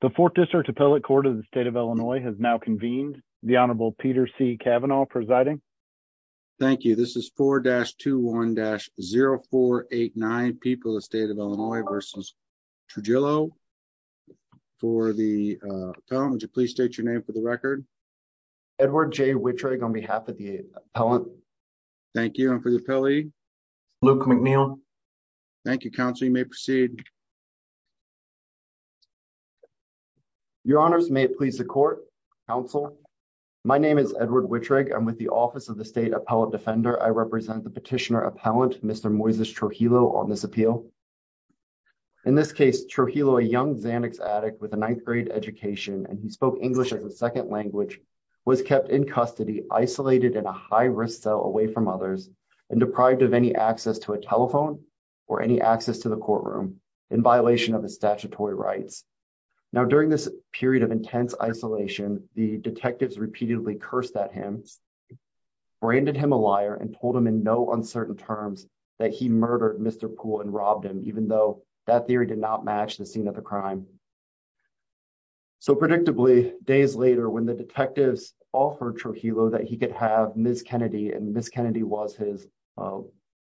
the fourth district appellate court of the state of illinois has now convened the honorable peter c cavanaugh presiding thank you this is four dash two one dash zero four eight nine people the state of illinois versus trujillo for the uh appellant would you please state your name for the record edward j wittrig on behalf of the thank you and for the appellee luke mcneil thank you counsel you may proceed your honors may it please the court counsel my name is edward wittrig i'm with the office of the state appellate defender i represent the petitioner appellant mr moises trujillo on this appeal in this case trujillo a young xanax addict with a ninth grade education and he spoke english as a second language was kept in custody isolated in a high-risk cell away from others and deprived of any access to a telephone or any access to the courtroom in violation of his statutory rights now during this period of intense isolation the detectives repeatedly cursed at him branded him a liar and told him in no uncertain terms that he murdered mr pool and robbed him even though that theory did not match the scene of the crime so predictably days later when the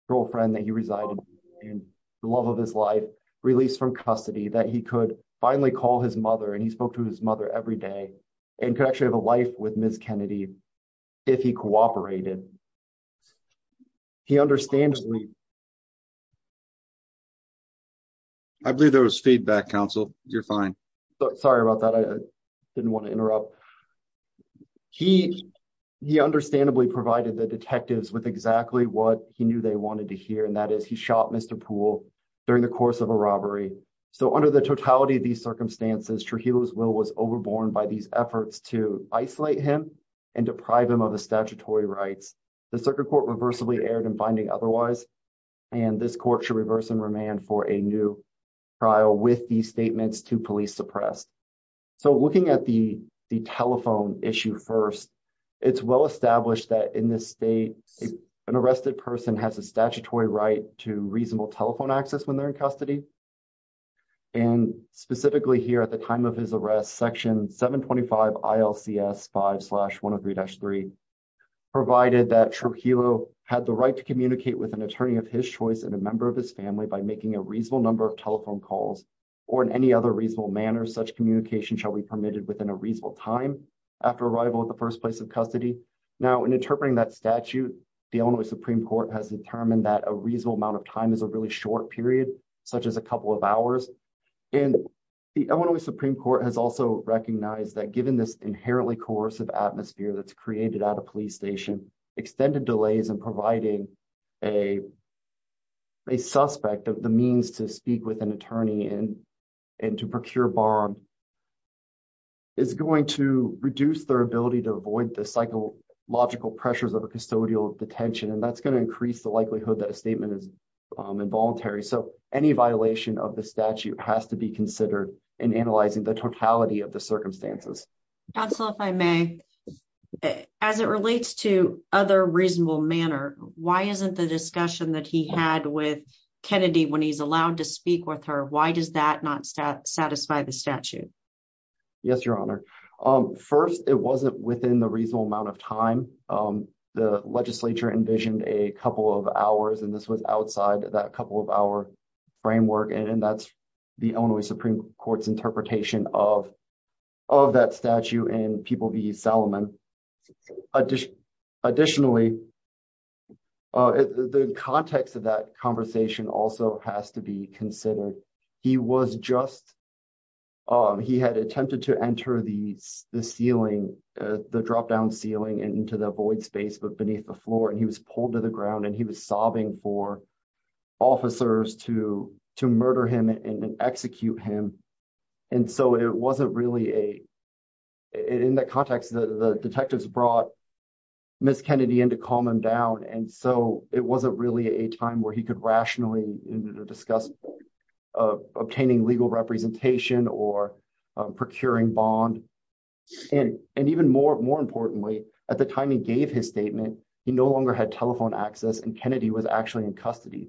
girlfriend that he resided in the love of his life released from custody that he could finally call his mother and he spoke to his mother every day and could actually have a life with ms kennedy if he cooperated he understandably i believe there was feedback counsel you're fine sorry about that i didn't want to interrupt he he understandably provided the detectives with exactly what he knew they wanted to hear and that is he shot mr pool during the course of a robbery so under the totality of these circumstances trujillo's will was overborne by these efforts to isolate him and deprive him of the statutory rights the circuit court reversibly erred in finding otherwise and this court should reverse and remand for a new trial with these statements to police suppressed so looking at the telephone issue first it's well established that in this state an arrested person has a statutory right to reasonable telephone access when they're in custody and specifically here at the time of his arrest section 725 ilcs 5 103-3 provided that trujillo had the right to communicate with an attorney of his choice and a member of his family by making a reasonable number of telephone calls or in any other reasonable manner such communication shall be permitted within a reasonable time after arrival at the first place of custody now in interpreting that statute the illinois supreme court has determined that a reasonable amount of time is a really short period such as a couple of hours and the illinois supreme court has also recognized that given this inherently coercive atmosphere that's created at a police station extended delays and providing a a suspect the means to speak with an attorney and and to procure bond is going to reduce their ability to avoid the psychological pressures of a custodial detention and that's going to increase the likelihood that a statement is involuntary so any violation of the statute has to be considered in analyzing the totality of the circumstances council if i may as it relates to other reasonable manner why isn't the discussion that he had with kennedy when he's allowed to speak with her why does that not satisfy the statute yes your honor um first it wasn't within the reasonable amount of time um the legislature envisioned a couple of hours and this was outside that couple of hour framework and that's the only supreme court's interpretation of of that statute and people salomon additionally uh the context of that conversation also has to be considered he was just um he had attempted to enter the the ceiling uh the drop down ceiling and into the void space but beneath the floor and he was pulled to the ground and he was sobbing for officers to to detectives brought miss kennedy in to calm him down and so it wasn't really a time where he could rationally discuss obtaining legal representation or procuring bond and and even more more importantly at the time he gave his statement he no longer had telephone access and kennedy was actually in custody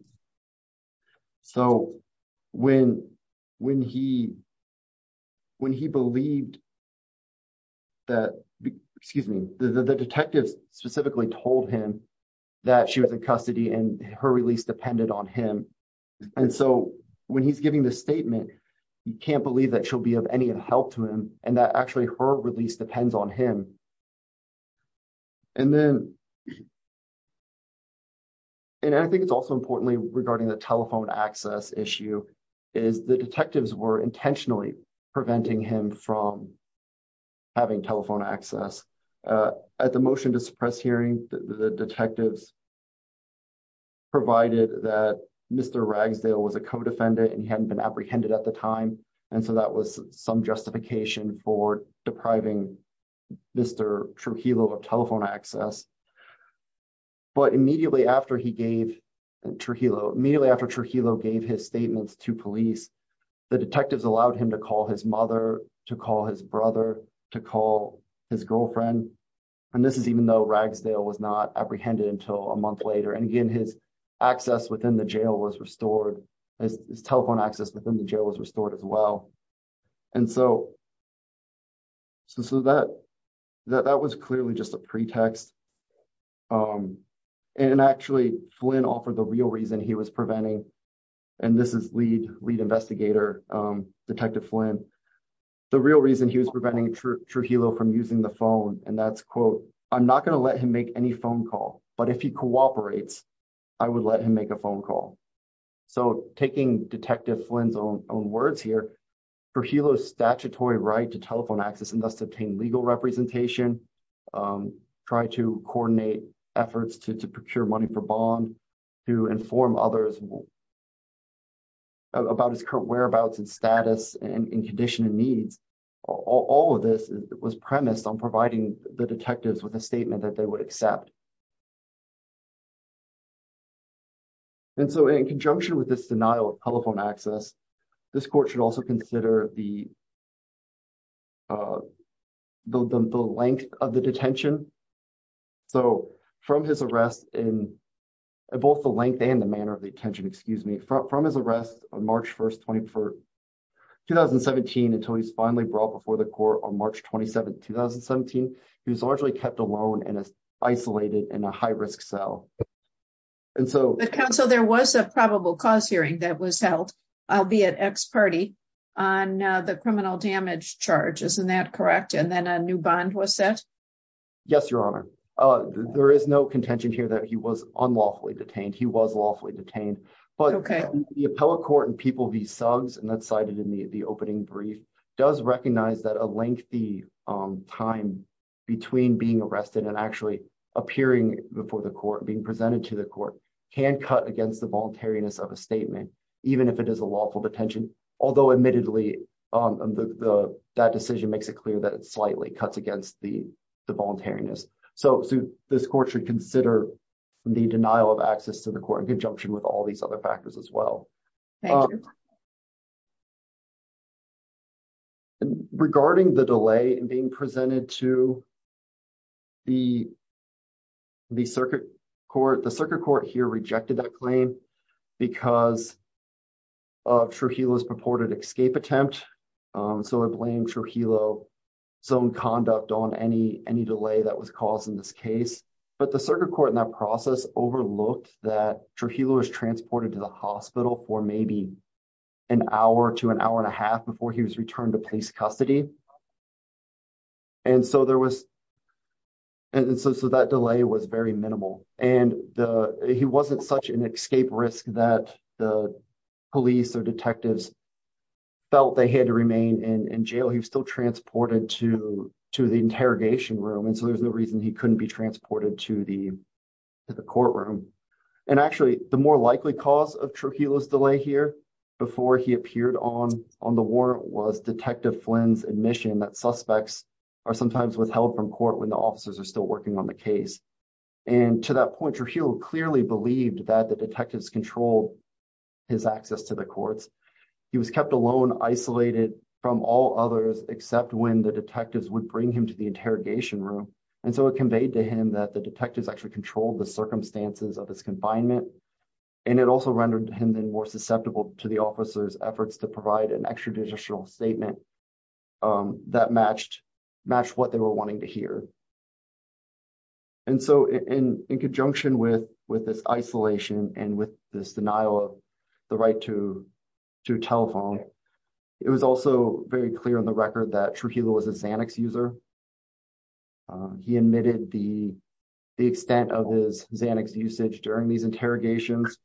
so when when he when he believed that excuse me the detectives specifically told him that she was in custody and her release depended on him and so when he's giving this statement he can't believe that she'll be of and i think it's also importantly regarding the telephone access issue is the detectives were intentionally preventing him from having telephone access at the motion to suppress hearing the detectives provided that mr ragsdale was a co-defendant and he hadn't been apprehended at the time and so that was some justification for depriving mr trujillo of telephone access but immediately after he gave and trujillo immediately after trujillo gave his statements to police the detectives allowed him to call his mother to call his brother to call his girlfriend and this is even though ragsdale was not apprehended until a month later and again his access within the jail was restored his telephone access within the jail was restored as well and so so that that that was clearly just a pretext um and actually flynn offered the real reason he was preventing and this is lead lead investigator um detective flynn the real reason he was preventing true trujillo from using the phone and that's quote i'm not going to let him make any phone call but if he cooperates i would let him make a phone call so taking detective flynn's own own words here for helo's statutory right to telephone access and thus obtain legal representation um try to coordinate efforts to to procure money for bond to inform others about his current whereabouts and status and in condition and needs all of this was premised on providing the detectives with a statement that they would accept and so in conjunction with this denial of telephone access this court should also consider the the length of the detention so from his arrest in both the length and the manner of the attention excuse me from his arrest on march 1st 24th 2017 until he's finally brought before the court on isolated in a high-risk cell and so the council there was a probable cause hearing that was held albeit x party on the criminal damage charge isn't that correct and then a new bond was set yes your honor uh there is no contention here that he was unlawfully detained he was lawfully detained but okay the appellate court and people v sugs and that's cited in the the opening brief does recognize that a lengthy um time between being arrested and actually appearing before the court being presented to the court can cut against the voluntariness of a statement even if it is a lawful detention although admittedly um the the that decision makes it clear that it slightly cuts against the the voluntariness so so this court should consider the denial of access to the court in conjunction with all these other factors as well regarding the delay and being presented to the the circuit court the circuit court here rejected that claim because of trujillo's purported escape attempt so i blame trujillo some conduct on any any delay that was caused in this case but the circuit court in that process overlooked that trujillo was transported to the hospital for maybe an hour to an hour and a half before he was returned to police custody and so there was and so that delay was very minimal and the he wasn't such an escape risk that the police or detectives felt they had to remain in in jail he was still transported to to the interrogation room and so there's no reason he couldn't be transported to the to the courtroom and actually the more likely cause of trujillo's delay here before he appeared on on the war was detective flynn's admission that suspects are sometimes withheld from court when the officers are still working on the case and to that point trujillo clearly believed that the detectives controlled his access to the courts he was kept alone isolated from all others except when the detectives would bring him to the interrogation room and so it conveyed to him that the detectives actually controlled the circumstances of his the officers efforts to provide an extrajudicial statement that matched match what they were wanting to hear and so in in conjunction with with this isolation and with this denial of the right to to telephone it was also very clear on the record that trujillo was a xanax user he admitted the the extent of his xanax usage during these interrogations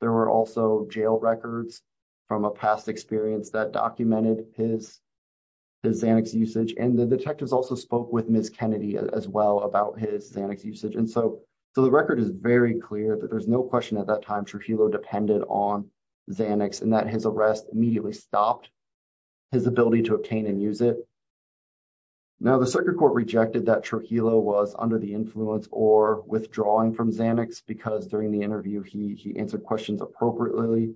there were also jail records from a past experience that documented his his xanax usage and the detectives also spoke with ms kennedy as well about his xanax usage and so so the record is very clear that there's no question at that time trujillo depended on xanax and that his arrest immediately stopped his ability to obtain and use it now the circuit court rejected that trujillo was under the influence or withdrawing from xanax because during the interview he he answered questions appropriately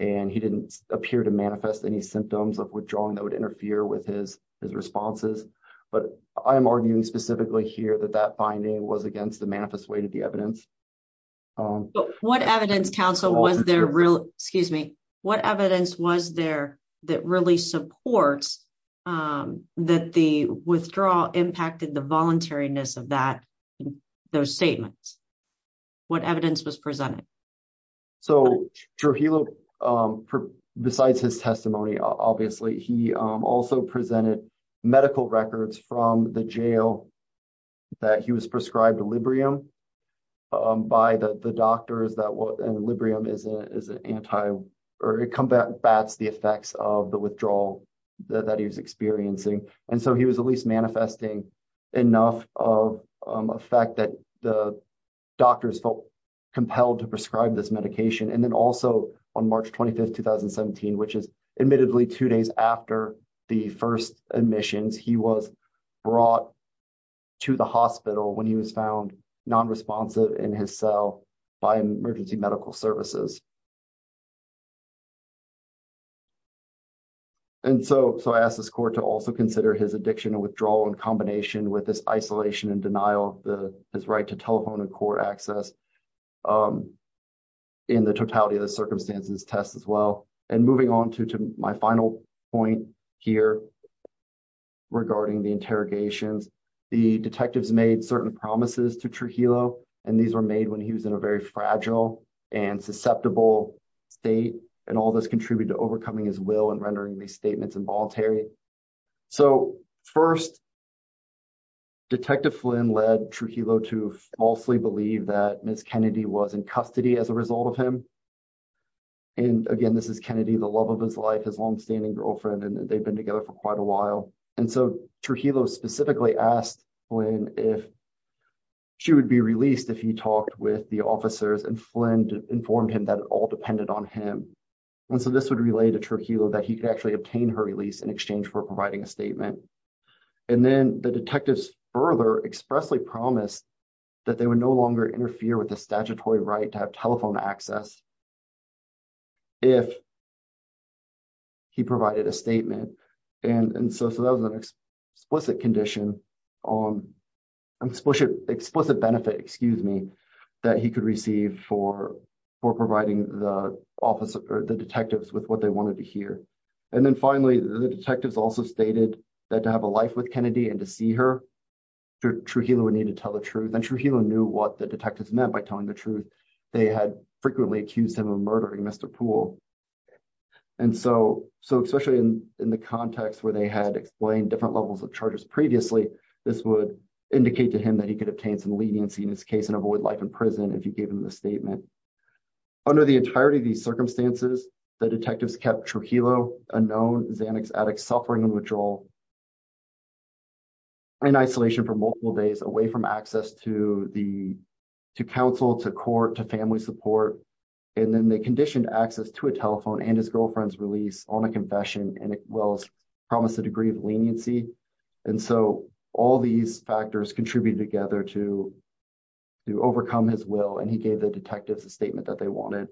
and he didn't appear to manifest any symptoms of withdrawing that would interfere with his his responses but i am arguing specifically here that that finding was against the manifest way to the evidence what evidence counsel was there real excuse me what evidence was there that really supports um that the withdrawal impacted the voluntariness of that those statements what evidence was presented so trujillo um besides his testimony obviously he also presented medical records from the jail that he was prescribed librium um by the the doctors that what and librium is a is an anti or it combats the effects of the withdrawal that he was experiencing and so he was at least manifesting enough of a fact that the doctors felt compelled to prescribe this medication and then also on march 25th 2017 which is admittedly two days after the first admissions he was brought to the hospital when he was found non-responsive in his cell by emergency medical services and so so i asked this court to also consider his addiction and withdrawal in combination with this isolation and denial of the his right to telephone and court access um in the totality of the circumstances test as well and moving on to my final point here regarding the interrogations the detectives made certain promises to trujillo and these were made when he was in a very fragile and susceptible state and all this contributed to overcoming his will and rendering these statements involuntary so first detective flynn led trujillo to falsely believe that miss kennedy was in custody as a result of him and again this is kennedy the love of his life his long-standing girlfriend and they've been together for quite a while and so trujillo specifically asked when if she would be released if he talked with the officers and flynn informed him that it all depended on him and so this would relate to trujillo that he could actually obtain her release in exchange for providing a statement and then the detectives further expressly promised that they would no longer interfere with the statutory right to have telephone access if he provided a statement and and so so that was an explicit condition on explicit explicit benefit excuse me that he could receive for for providing the office or the detectives with what they wanted to hear and then finally the detectives also stated that to have a life with kennedy and to see her trujillo would need to tell the truth and trujillo knew what the detectives meant by they had frequently accused him of murdering mr pool and so so especially in in the context where they had explained different levels of charges previously this would indicate to him that he could obtain some leniency in his case and avoid life in prison if you gave him the statement under the entirety of these circumstances the detectives kept trujillo unknown xanax addicts in isolation for multiple days away from access to the to counsel to court to family support and then they conditioned access to a telephone and his girlfriend's release on a confession and it will promise a degree of leniency and so all these factors contributed together to to overcome his will and he gave the detectives a statement that they wanted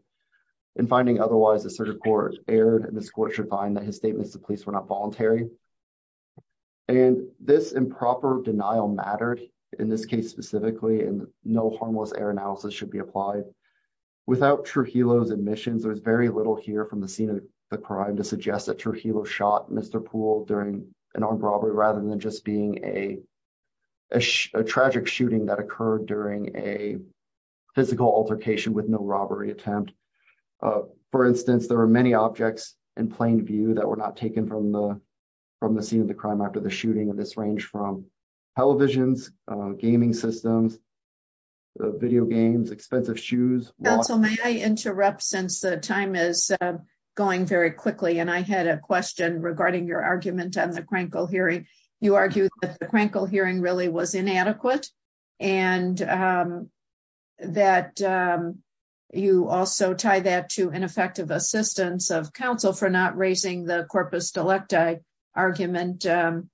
and finding otherwise the circuit court erred and this court should find that his statements the police were not voluntary and this improper denial mattered in this case specifically and no harmless air analysis should be applied without trujillo's admissions there's very little here from the scene of the crime to suggest that trujillo shot mr pool during an armed robbery rather than just being a a tragic shooting that occurred during a physical altercation with no the from the scene of the crime after the shooting of this range from televisions gaming systems video games expensive shoes also may i interrupt since the time is going very quickly and i had a question regarding your argument on the crankle hearing you argued that the crankle hearing really was inadequate and um that um you also tie that to ineffective assistance of counsel for not raising the corpus delecta argument um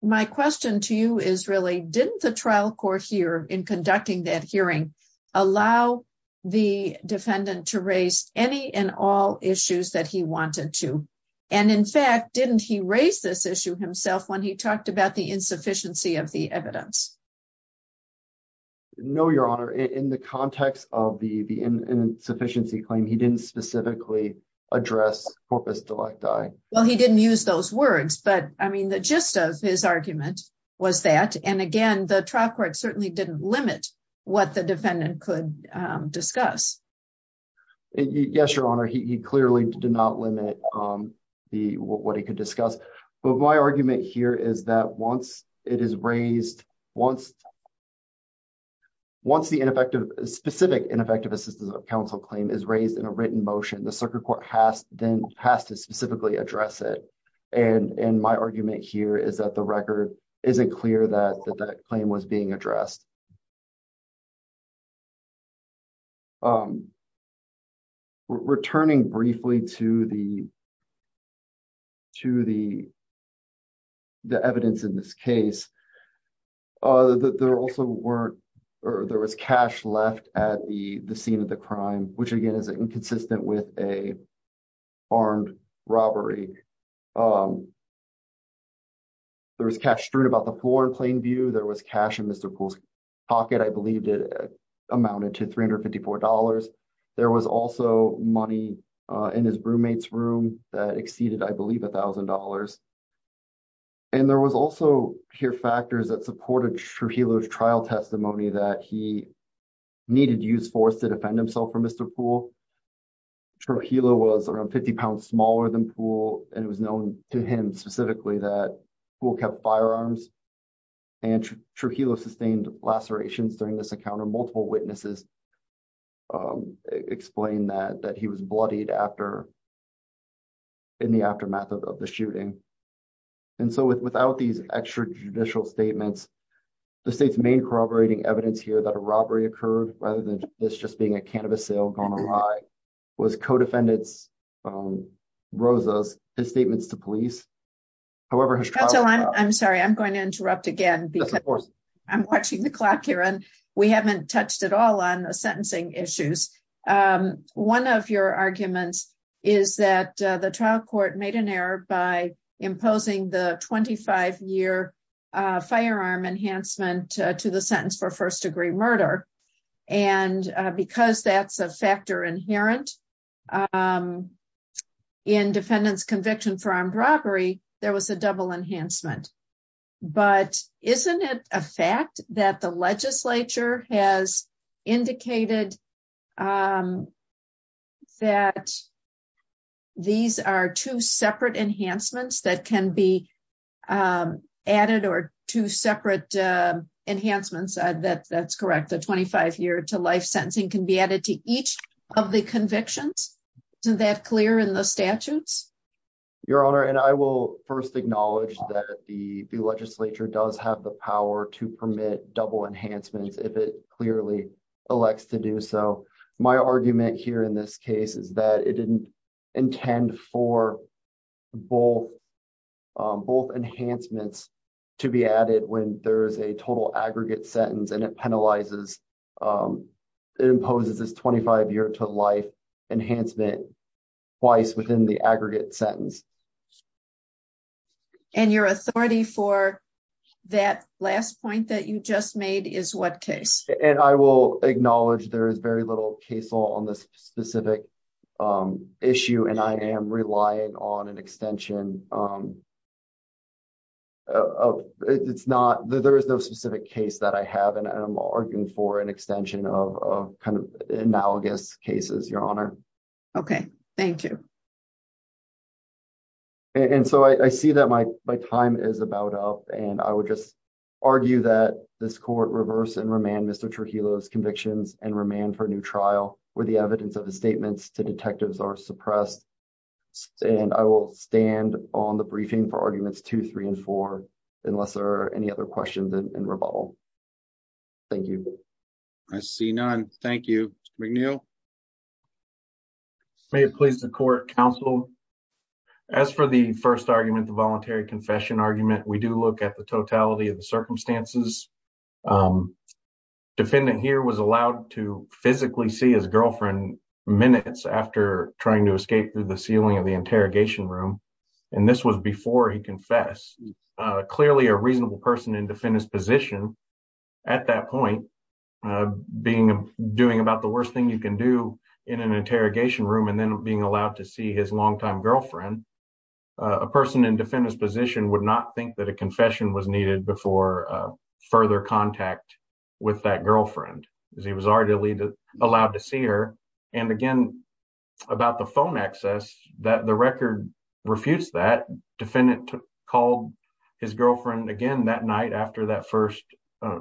my question to you is really didn't the trial court here in conducting that hearing allow the defendant to raise any and all issues that he wanted to and in fact didn't he raise this issue himself when he talked about the insufficiency of the evidence no your honor in the context of the the insufficiency claim he didn't specifically address corpus delecti well he didn't use those words but i mean the gist of his argument was that and again the trial court certainly didn't limit what the defendant could um discuss yes your honor he clearly did not limit um the what he could discuss but my argument here is that once it is raised once once the ineffective specific ineffective assistance of counsel claim is raised in a written motion the circuit court has then has to specifically address it and and my argument here is that the record isn't clear that that claim was being addressed um returning briefly to the to the the evidence in this case uh there also weren't or there was cash left at the the scene of the crime which again is inconsistent with a armed robbery um there was cash strewn about the floor in plain view there was cash in mr pool's pocket i believed it amounted to 354 there was also money uh in his roommate's room that exceeded i believe a thousand dollars and there was also here factors that supported true healers trial testimony that he needed use force to defend himself for mr pool Trujillo was around 50 pounds smaller than pool and it was known to him specifically that pool kept firearms and Trujillo sustained lacerations during this encounter multiple witnesses explained that that he was bloodied after in the aftermath of the shooting and so without these extrajudicial statements the state's main corroborating evidence here that a robbery occurred rather than this just being a cannabis sale gone awry was co-defendants um rosa's his statements to police however i'm sorry i'm going to interrupt again because of course i'm watching the clock here and we haven't touched at all on the sentencing issues um one of your arguments is that the trial court made an error by imposing the 25 year uh firearm enhancement to the sentence for first degree murder and because that's a factor inherent in defendant's conviction for armed robbery there was a double enhancement but isn't it a fact that the legislature has indicated um that these are two separate enhancements that can be um added or two separate uh enhancements that that's correct the 25 year to life sentencing can be added to each of the convictions isn't that clear in the statutes your honor and i will first acknowledge that the the legislature does have the power to permit double enhancements if it clearly elects to do so my argument here in this case is that it didn't intend for both um both enhancements to be added when there is a total aggregate sentence and it penalizes um it imposes this 25 year to life enhancement twice within the aggregate sentence and your authority for that last point that you just made is what case and i will acknowledge there is very little case law on this specific um issue and i am relying on an extension um it's not there is no specific case that i have and i'm arguing for an extension of kind of analogous cases your honor okay thank you and so i see that my my time is about up and i would just argue that this court reverse and remand mr trujillo's convictions and remand for a new trial where the evidence of his statements to detectives are suppressed and i will stand on the briefing for arguments two three and four unless there are any other questions and rebuttal thank you i see none thank you mcneil may it please the court counsel as for the first argument voluntary confession argument we do look at the totality of the circumstances um defendant here was allowed to physically see his girlfriend minutes after trying to escape through the ceiling of the interrogation room and this was before he confessed uh clearly a reasonable person in defendant's position at that point uh being doing about the worst thing you can do in an interrogation room and then being allowed to see his longtime girlfriend a person in defendant's position would not think that a confession was needed before further contact with that girlfriend because he was already allowed to see her and again about the phone access that the record refutes that defendant called his girlfriend again that night after that first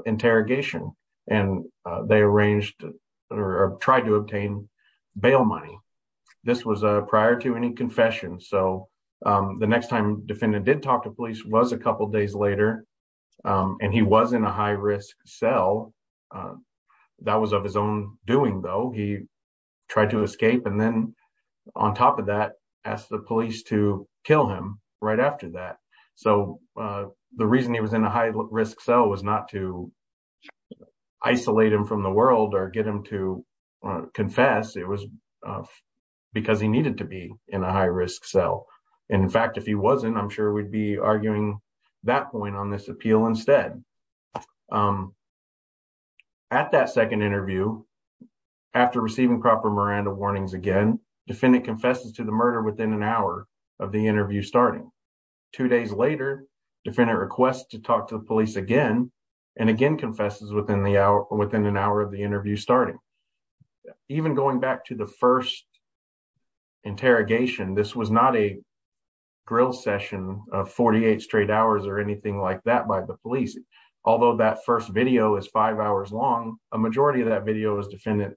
interrogation and they arranged or tried to obtain bail money this was prior to any confession so the next time defendant did talk to police was a couple days later and he was in a high-risk cell that was of his own doing though he tried to escape and then on top of that asked the police to kill him right after that so the reason he was in a high-risk cell was not to isolate him from the world or get him to confess it was because he needed to be in a high-risk cell and in fact if he wasn't i'm sure we'd be arguing that point on this appeal instead um at that second interview after receiving proper Miranda warnings again defendant confesses to the murder within an hour of the interview starting two days later defendant requests to and again confesses within the hour within an hour of the interview starting even going back to the first interrogation this was not a grill session of 48 straight hours or anything like that by the police although that first video is five hours long a majority of that video is defendant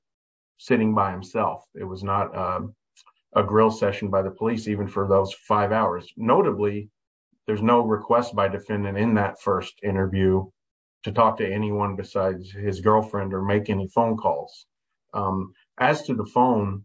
sitting by himself it was not a grill session by the police even for those five hours notably there's no request by defendant in that first interview to talk to anyone besides his girlfriend or make any phone calls as to the phone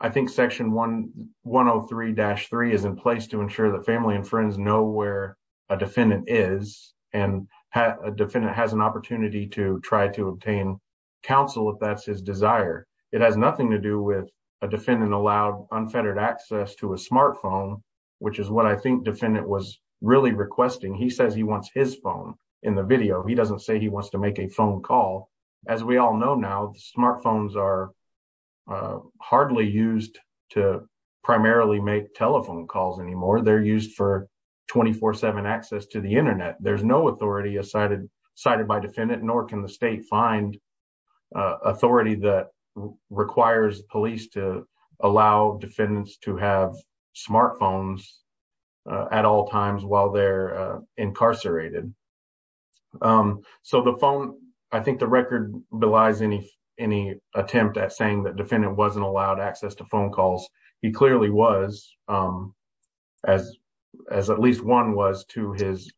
i think section 1 103-3 is in place to ensure that family and friends know where a defendant is and a defendant has an opportunity to try to obtain counsel if that's his desire it has nothing to do with a defendant allowed unfettered access to a smartphone which is what i think defendant was really requesting he says he wants his phone in the video he doesn't say he wants to make a phone call as we all know now smartphones are hardly used to primarily make telephone calls anymore they're used for 24-7 access to the internet there's no authority as cited cited by defendant nor can the state find authority that requires police to allow defendants to have smartphones at all times while they're incarcerated so the phone i think the record belies any any attempt at saying that defendant wasn't allowed access to phone calls he clearly was as as at least one was to his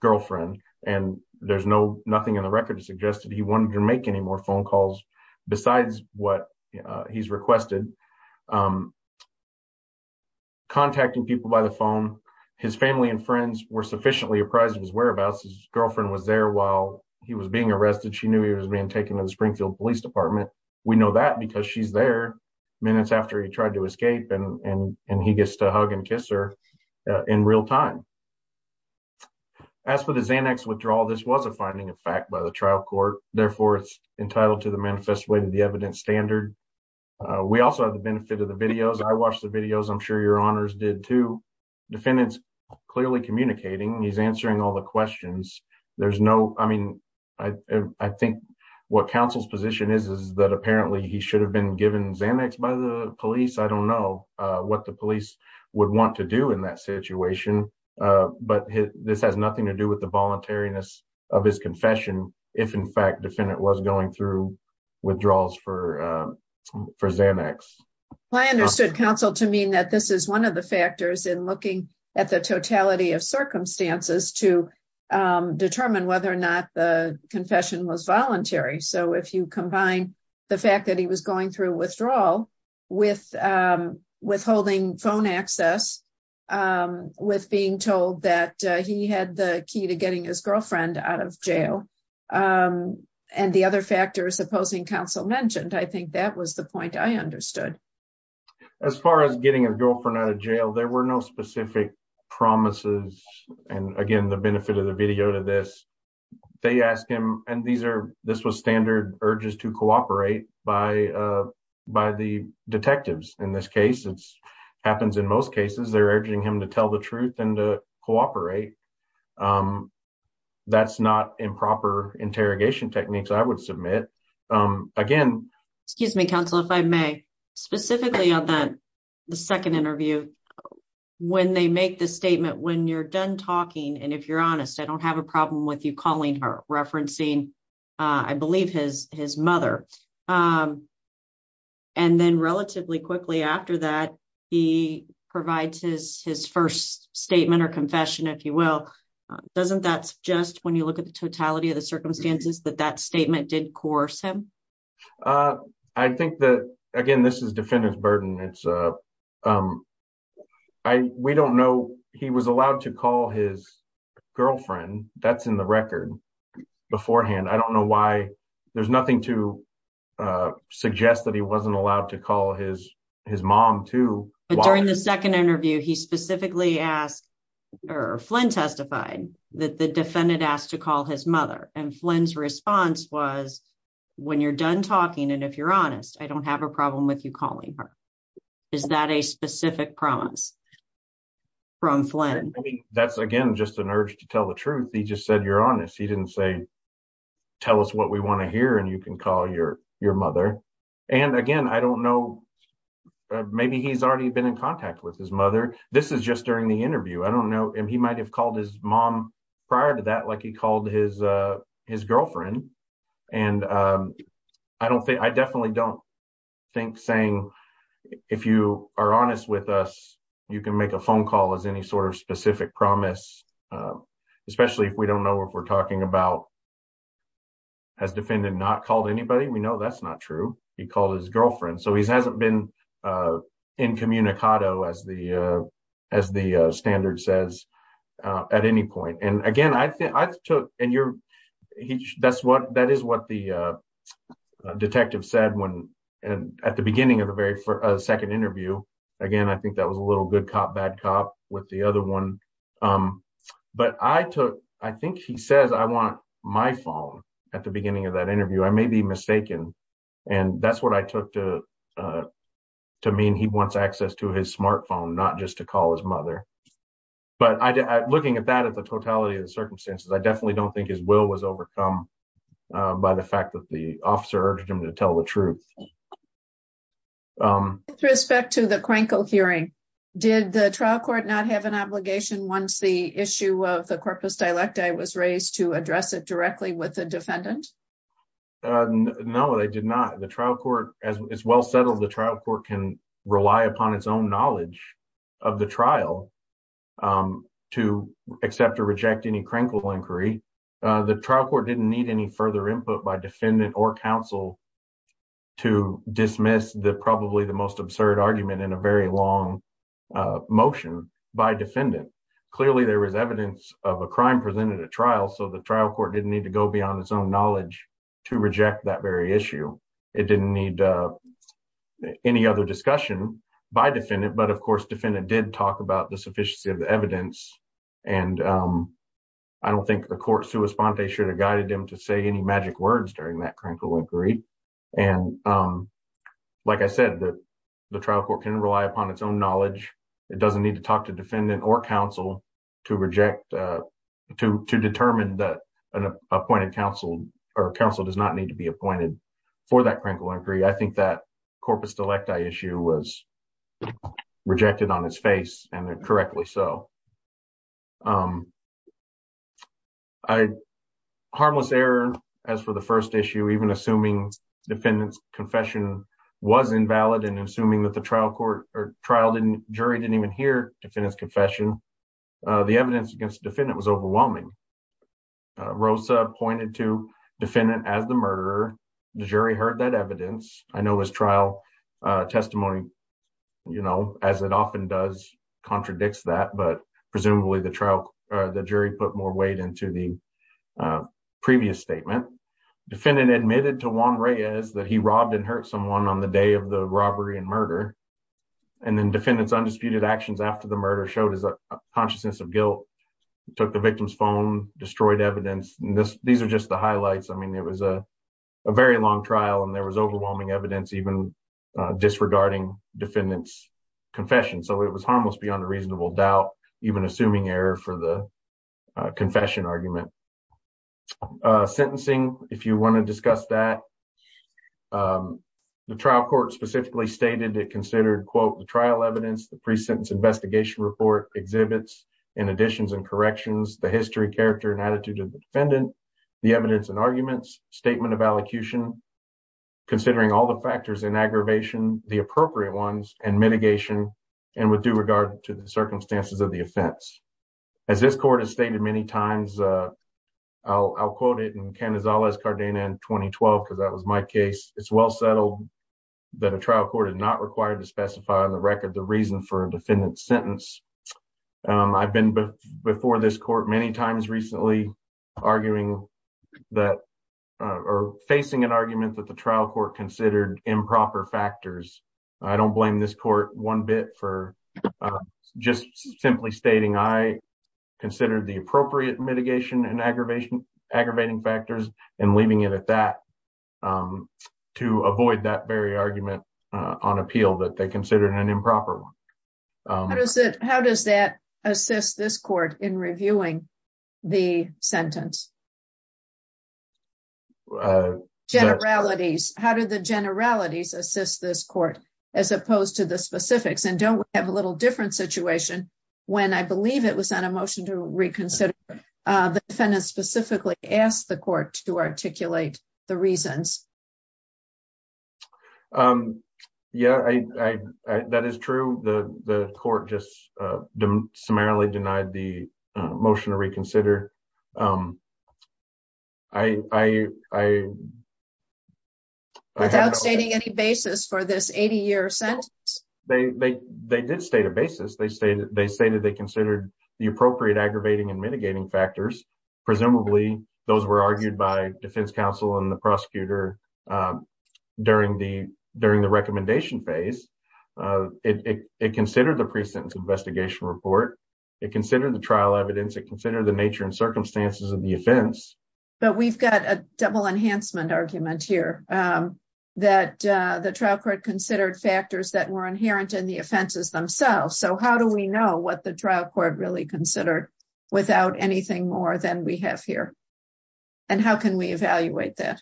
girlfriend and there's no nothing in the record suggested he wanted to make any more phone calls besides what he's requested um contacting people by the phone his family and friends were sufficiently apprised of his whereabouts his girlfriend was there while he was being arrested she knew he was being taken to the springfield police department we know that because she's there minutes after he tried to escape and and and he gets to hug and kiss her in real time as for the xanax withdrawal this was a finding of fact by the trial court therefore it's entitled to the manifest way to the evidence standard we also have the benefit of the videos i watched the videos i'm sure your honors did too defendants clearly communicating he's answering all the questions there's no i mean i i think what council's position is is that apparently he should have been given xanax by the police i don't know uh what the police would want to do that situation but this has nothing to do with the voluntariness of his confession if in fact defendant was going through withdrawals for for xanax i understood counsel to mean that this is one of the factors in looking at the totality of circumstances to determine whether or not the confession was voluntary so if you combine the fact that he was going through withdrawal with um withholding phone access um with being told that he had the key to getting his girlfriend out of jail um and the other factors opposing council mentioned i think that was the point i understood as far as getting a girlfriend out of jail there were no specific promises and again the benefit of the video to this they asked him and these are this was standard urges to cooperate by uh by the detectives in this case it's happens in most cases they're urging him to tell the truth and to cooperate um that's not improper interrogation techniques i would submit um again excuse me counsel if i may specifically on that the second interview when they make the statement when you're done talking and if you're honest i don't have a problem with you calling her uh i believe his his mother um and then relatively quickly after that he provides his his first statement or confession if you will doesn't that suggest when you look at the totality of the circumstances that that statement did coerce him uh i think that again this is defendant's burden it's uh um i we don't know he was allowed to call his girlfriend that's in the beforehand i don't know why there's nothing to uh suggest that he wasn't allowed to call his his mom too but during the second interview he specifically asked or flynn testified that the defendant asked to call his mother and flynn's response was when you're done talking and if you're honest i don't have a problem with you calling her is that a specific promise from flynn that's again just an urge to tell the truth he just said you're honest he didn't say tell us what we want to hear and you can call your your mother and again i don't know maybe he's already been in contact with his mother this is just during the interview i don't know and he might have called his mom prior to that like he called his uh his girlfriend and um i don't think i definitely don't think saying if you are honest with us you can make a phone call as any sort of specific promise especially if we don't know if we're talking about has defendant not called anybody we know that's not true he called his girlfriend so he hasn't been uh incommunicado as the uh as the standard says uh at any point and again i think i took and you're he that's what that is what the uh detective said when and at the beginning of the second interview again i think that was a little good cop bad cop with the other one um but i took i think he says i want my phone at the beginning of that interview i may be mistaken and that's what i took to uh to mean he wants access to his smartphone not just to call his mother but i looking at that at the totality of the circumstances i definitely don't think his will was overcome by the fact that the officer urged him to tell the truth with respect to the crankle hearing did the trial court not have an obligation once the issue of the corpus dialecti was raised to address it directly with the defendant no they did not the trial court as well settled the trial court can rely upon its own knowledge of the trial to accept or reject any crankle inquiry the trial court didn't need any further input by defendant or counsel to dismiss the probably the most absurd argument in a very long motion by defendant clearly there was evidence of a crime presented at trial so the trial court didn't need to go beyond its own knowledge to reject that very issue it didn't need uh any other discussion by defendant but of course defendant did talk about the sufficiency of the evidence and um i don't think the court's who respond they should have guided them to say any magic words during that crankle inquiry and um like i said that the trial court can rely upon its own knowledge it doesn't need to talk to defendant or counsel to reject uh to to determine that an appointed counsel or counsel does not need to be appointed for that crankle inquiry i think that corpus dialecti issue was rejected on his face and correctly so um i harmless error as for the first issue even assuming defendant's confession was invalid and assuming that the trial court or trial didn't jury didn't even hear defendant's confession uh the evidence against defendant was overwhelming uh rosa pointed to defendant as the murderer the jury heard that evidence i know his trial uh testimony you know as it often does contradicts that but presumably the trial the jury put more weight into the previous statement defendant admitted to juan reyes that he robbed and hurt someone on the day of the robbery and murder and then defendants undisputed actions after the murder showed his consciousness of guilt took the victim's phone destroyed evidence and this these are just the highlights i mean it was a very long trial and there was overwhelming evidence even uh disregarding defendants confession so it was harmless beyond a reasonable doubt even assuming error for the confession argument uh sentencing if you want to discuss that um the trial court specifically stated it considered quote the trial evidence the pre-sentence investigation report exhibits in additions and corrections the history character and attitude of the defendant the evidence and arguments statement of allocution considering all the factors in aggravation the appropriate ones and mitigation and with due regard to the circumstances of the offense as this court has stated many times uh i'll quote it in canizales cardena in 2012 because that was my case it's well settled that a trial court is not required to specify on the record the reason for a defendant's sentence um i've been before this court many times recently arguing that or facing an argument that the trial court considered improper factors i don't blame this court one bit for just simply stating i considered the appropriate mitigation and aggravation aggravating factors and leaving it at that um to avoid that very argument uh on appeal that they considered an improper one how does it how does that assist this court in reviewing the sentence uh generalities how did the generalities assist this court as opposed to the specifics and don't we have a little different situation when i believe it was on a motion to reconsider uh the defendant specifically asked the court to articulate the motion to reconsider um i i i without stating any basis for this 80 year sentence they they they did state a basis they stated they stated they considered the appropriate aggravating and mitigating factors presumably those were argued by defense counsel and the prosecutor um during the during the recommendation phase uh it it considered the pre-sentence investigation report it considered the trial evidence it considered the nature and circumstances of the offense but we've got a double enhancement argument here um that uh the trial court considered factors that were inherent in the offenses themselves so how do we know what the trial court really considered without anything more than we have here and how can we evaluate that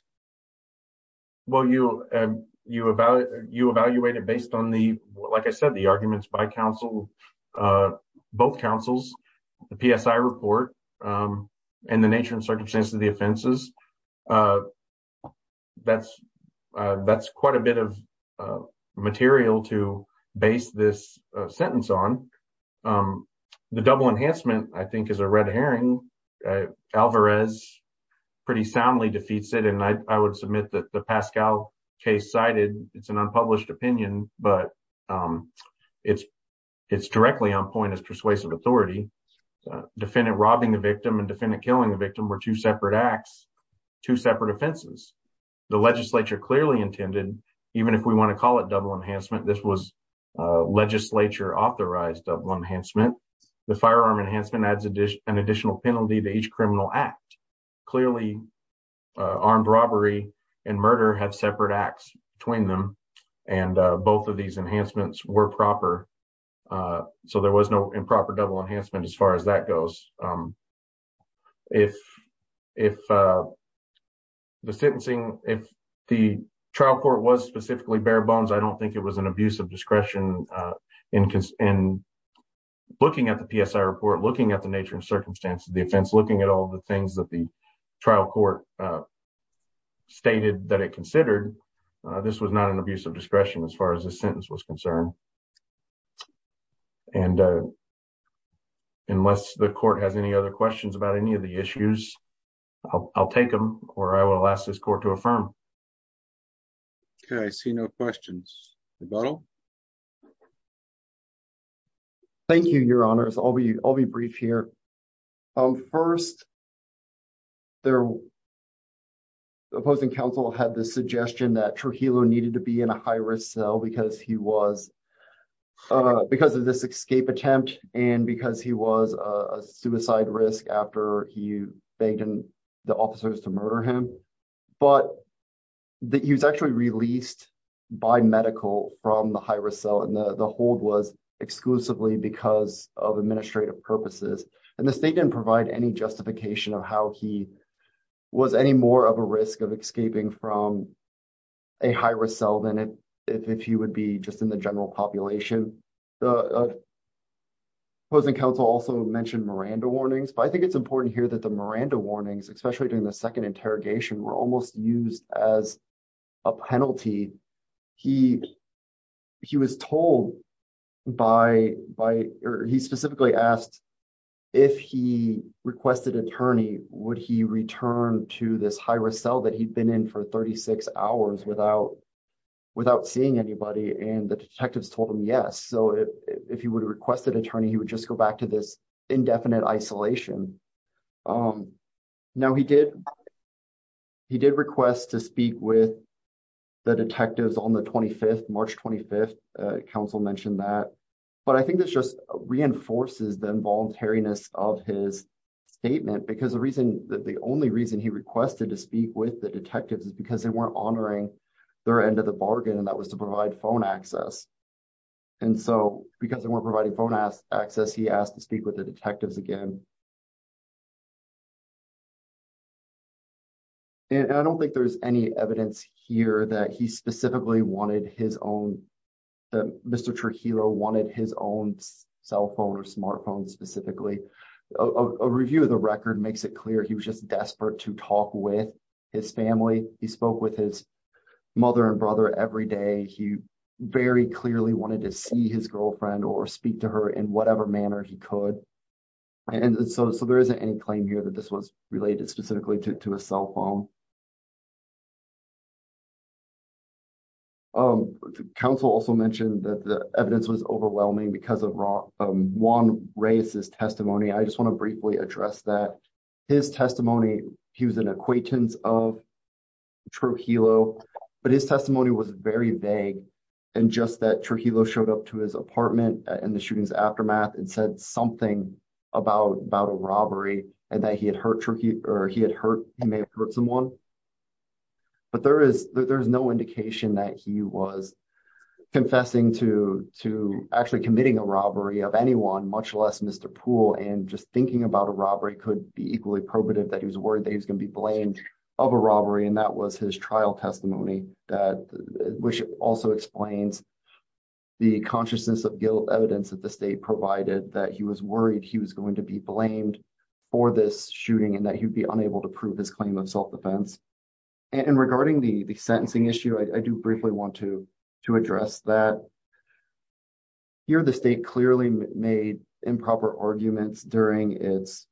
well you um you about you evaluate it based on the like i said the arguments by council uh both councils the psi report um and the nature and circumstances of the offenses uh that's uh that's quite a bit of material to base this sentence on um the double enhancement i think is a red herring alvarez pretty soundly defeats it and i i would submit that the pascal case cited it's an unpublished opinion but um it's it's directly on point as persuasive authority defendant robbing the victim and defendant killing the victim were two separate acts two separate offenses the legislature clearly intended even if we want to call it double enhancement this was uh legislature authorized double enhancement the firearm enhancement adds an additional penalty to each criminal act clearly armed robbery and murder had separate acts between them and both of these enhancements were proper uh so there was no improper double enhancement as far as that goes um if if uh the sentencing if the trial court was specifically bare bones i don't think it was an abuse of discretion uh in in looking at the psi report looking at the nature and circumstances the offense looking at all the things that the trial court uh stated that it considered this was not an abuse of discretion as far as this sentence was concerned and uh unless the court has any other questions about any of the issues i'll take them or i will ask this court to affirm okay i see no questions rebuttal thank you your honors i'll be i'll be brief here um first their opposing counsel had the suggestion that trujillo needed to be in a high-risk cell because he was uh because of this escape attempt and because he was a suicide risk after he begged the officers to murder him but that he was actually released by medical from the high-risk cell and the hold was exclusively because of administrative purposes and the state didn't provide any justification of how he was any more of a risk of escaping from a high-risk cell than it if he would be just in the general population the opposing counsel also mentioned miranda warnings but i think it's important here that the miranda warnings especially during the second interrogation were almost used as a penalty he he was told by by or he specifically asked if he requested attorney would he return to this high-risk cell that he'd been in for 36 hours without without seeing anybody and the detectives told him yes so if he would request an attorney would just go back to this indefinite isolation um now he did he did request to speak with the detectives on the 25th march 25th council mentioned that but i think this just reinforces the involuntariness of his statement because the reason the only reason he requested to speak with the detectives is because they weren't honoring their end of the bargain and that was to provide phone access and so because they weren't providing phone access he asked to speak with the detectives again and i don't think there's any evidence here that he specifically wanted his own mr trujillo wanted his own cell phone or smartphone specifically a review of the record makes it clear he was just desperate to talk with his family he spoke with his mother and brother every day he very clearly wanted to see his girlfriend or speak to her in whatever manner he could and so so there isn't any claim here that this was related specifically to a cell phone um council also mentioned that the evidence was overwhelming because of raw um one racist testimony i just want to briefly address that his testimony he was an acquaintance of trujillo but his testimony was very vague and just that trujillo showed up to his apartment in the shooting's aftermath and said something about about a robbery and that he had hurt or he had hurt he may have hurt someone but there is there's no indication that he was confessing to to actually committing a robbery of anyone much less mr pool and just thinking about a robbery could be equally probative that he was worried that he was going to be blamed of a robbery and that was his trial testimony that which also explains the consciousness of guilt evidence that the state provided that he was worried he was going to be blamed for this shooting and that he'd be unable to prove his claim of self-defense and regarding the the sentencing issue i do briefly want to to address that here the state clearly made improper arguments during its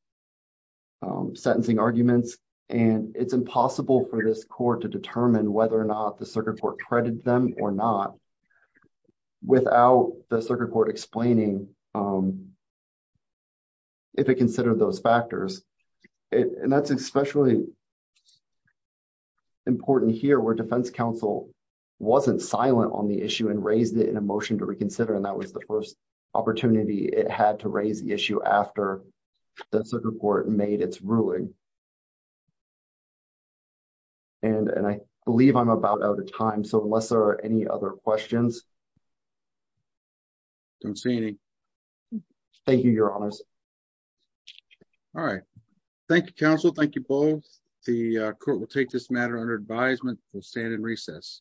sentencing arguments and it's impossible for this court to determine whether or not the circuit court credited them or not without the circuit court explaining if it considered those factors and that's especially important here where defense counsel wasn't silent on the issue and raised it in a motion to reconsider and that was the first opportunity it had to raise the issue after the circuit court made its ruling and and i believe i'm about out of time so unless there are any other questions i don't see any thank you your honors all right thank you counsel thank you both the court will take this matter under advisement we'll stand in recess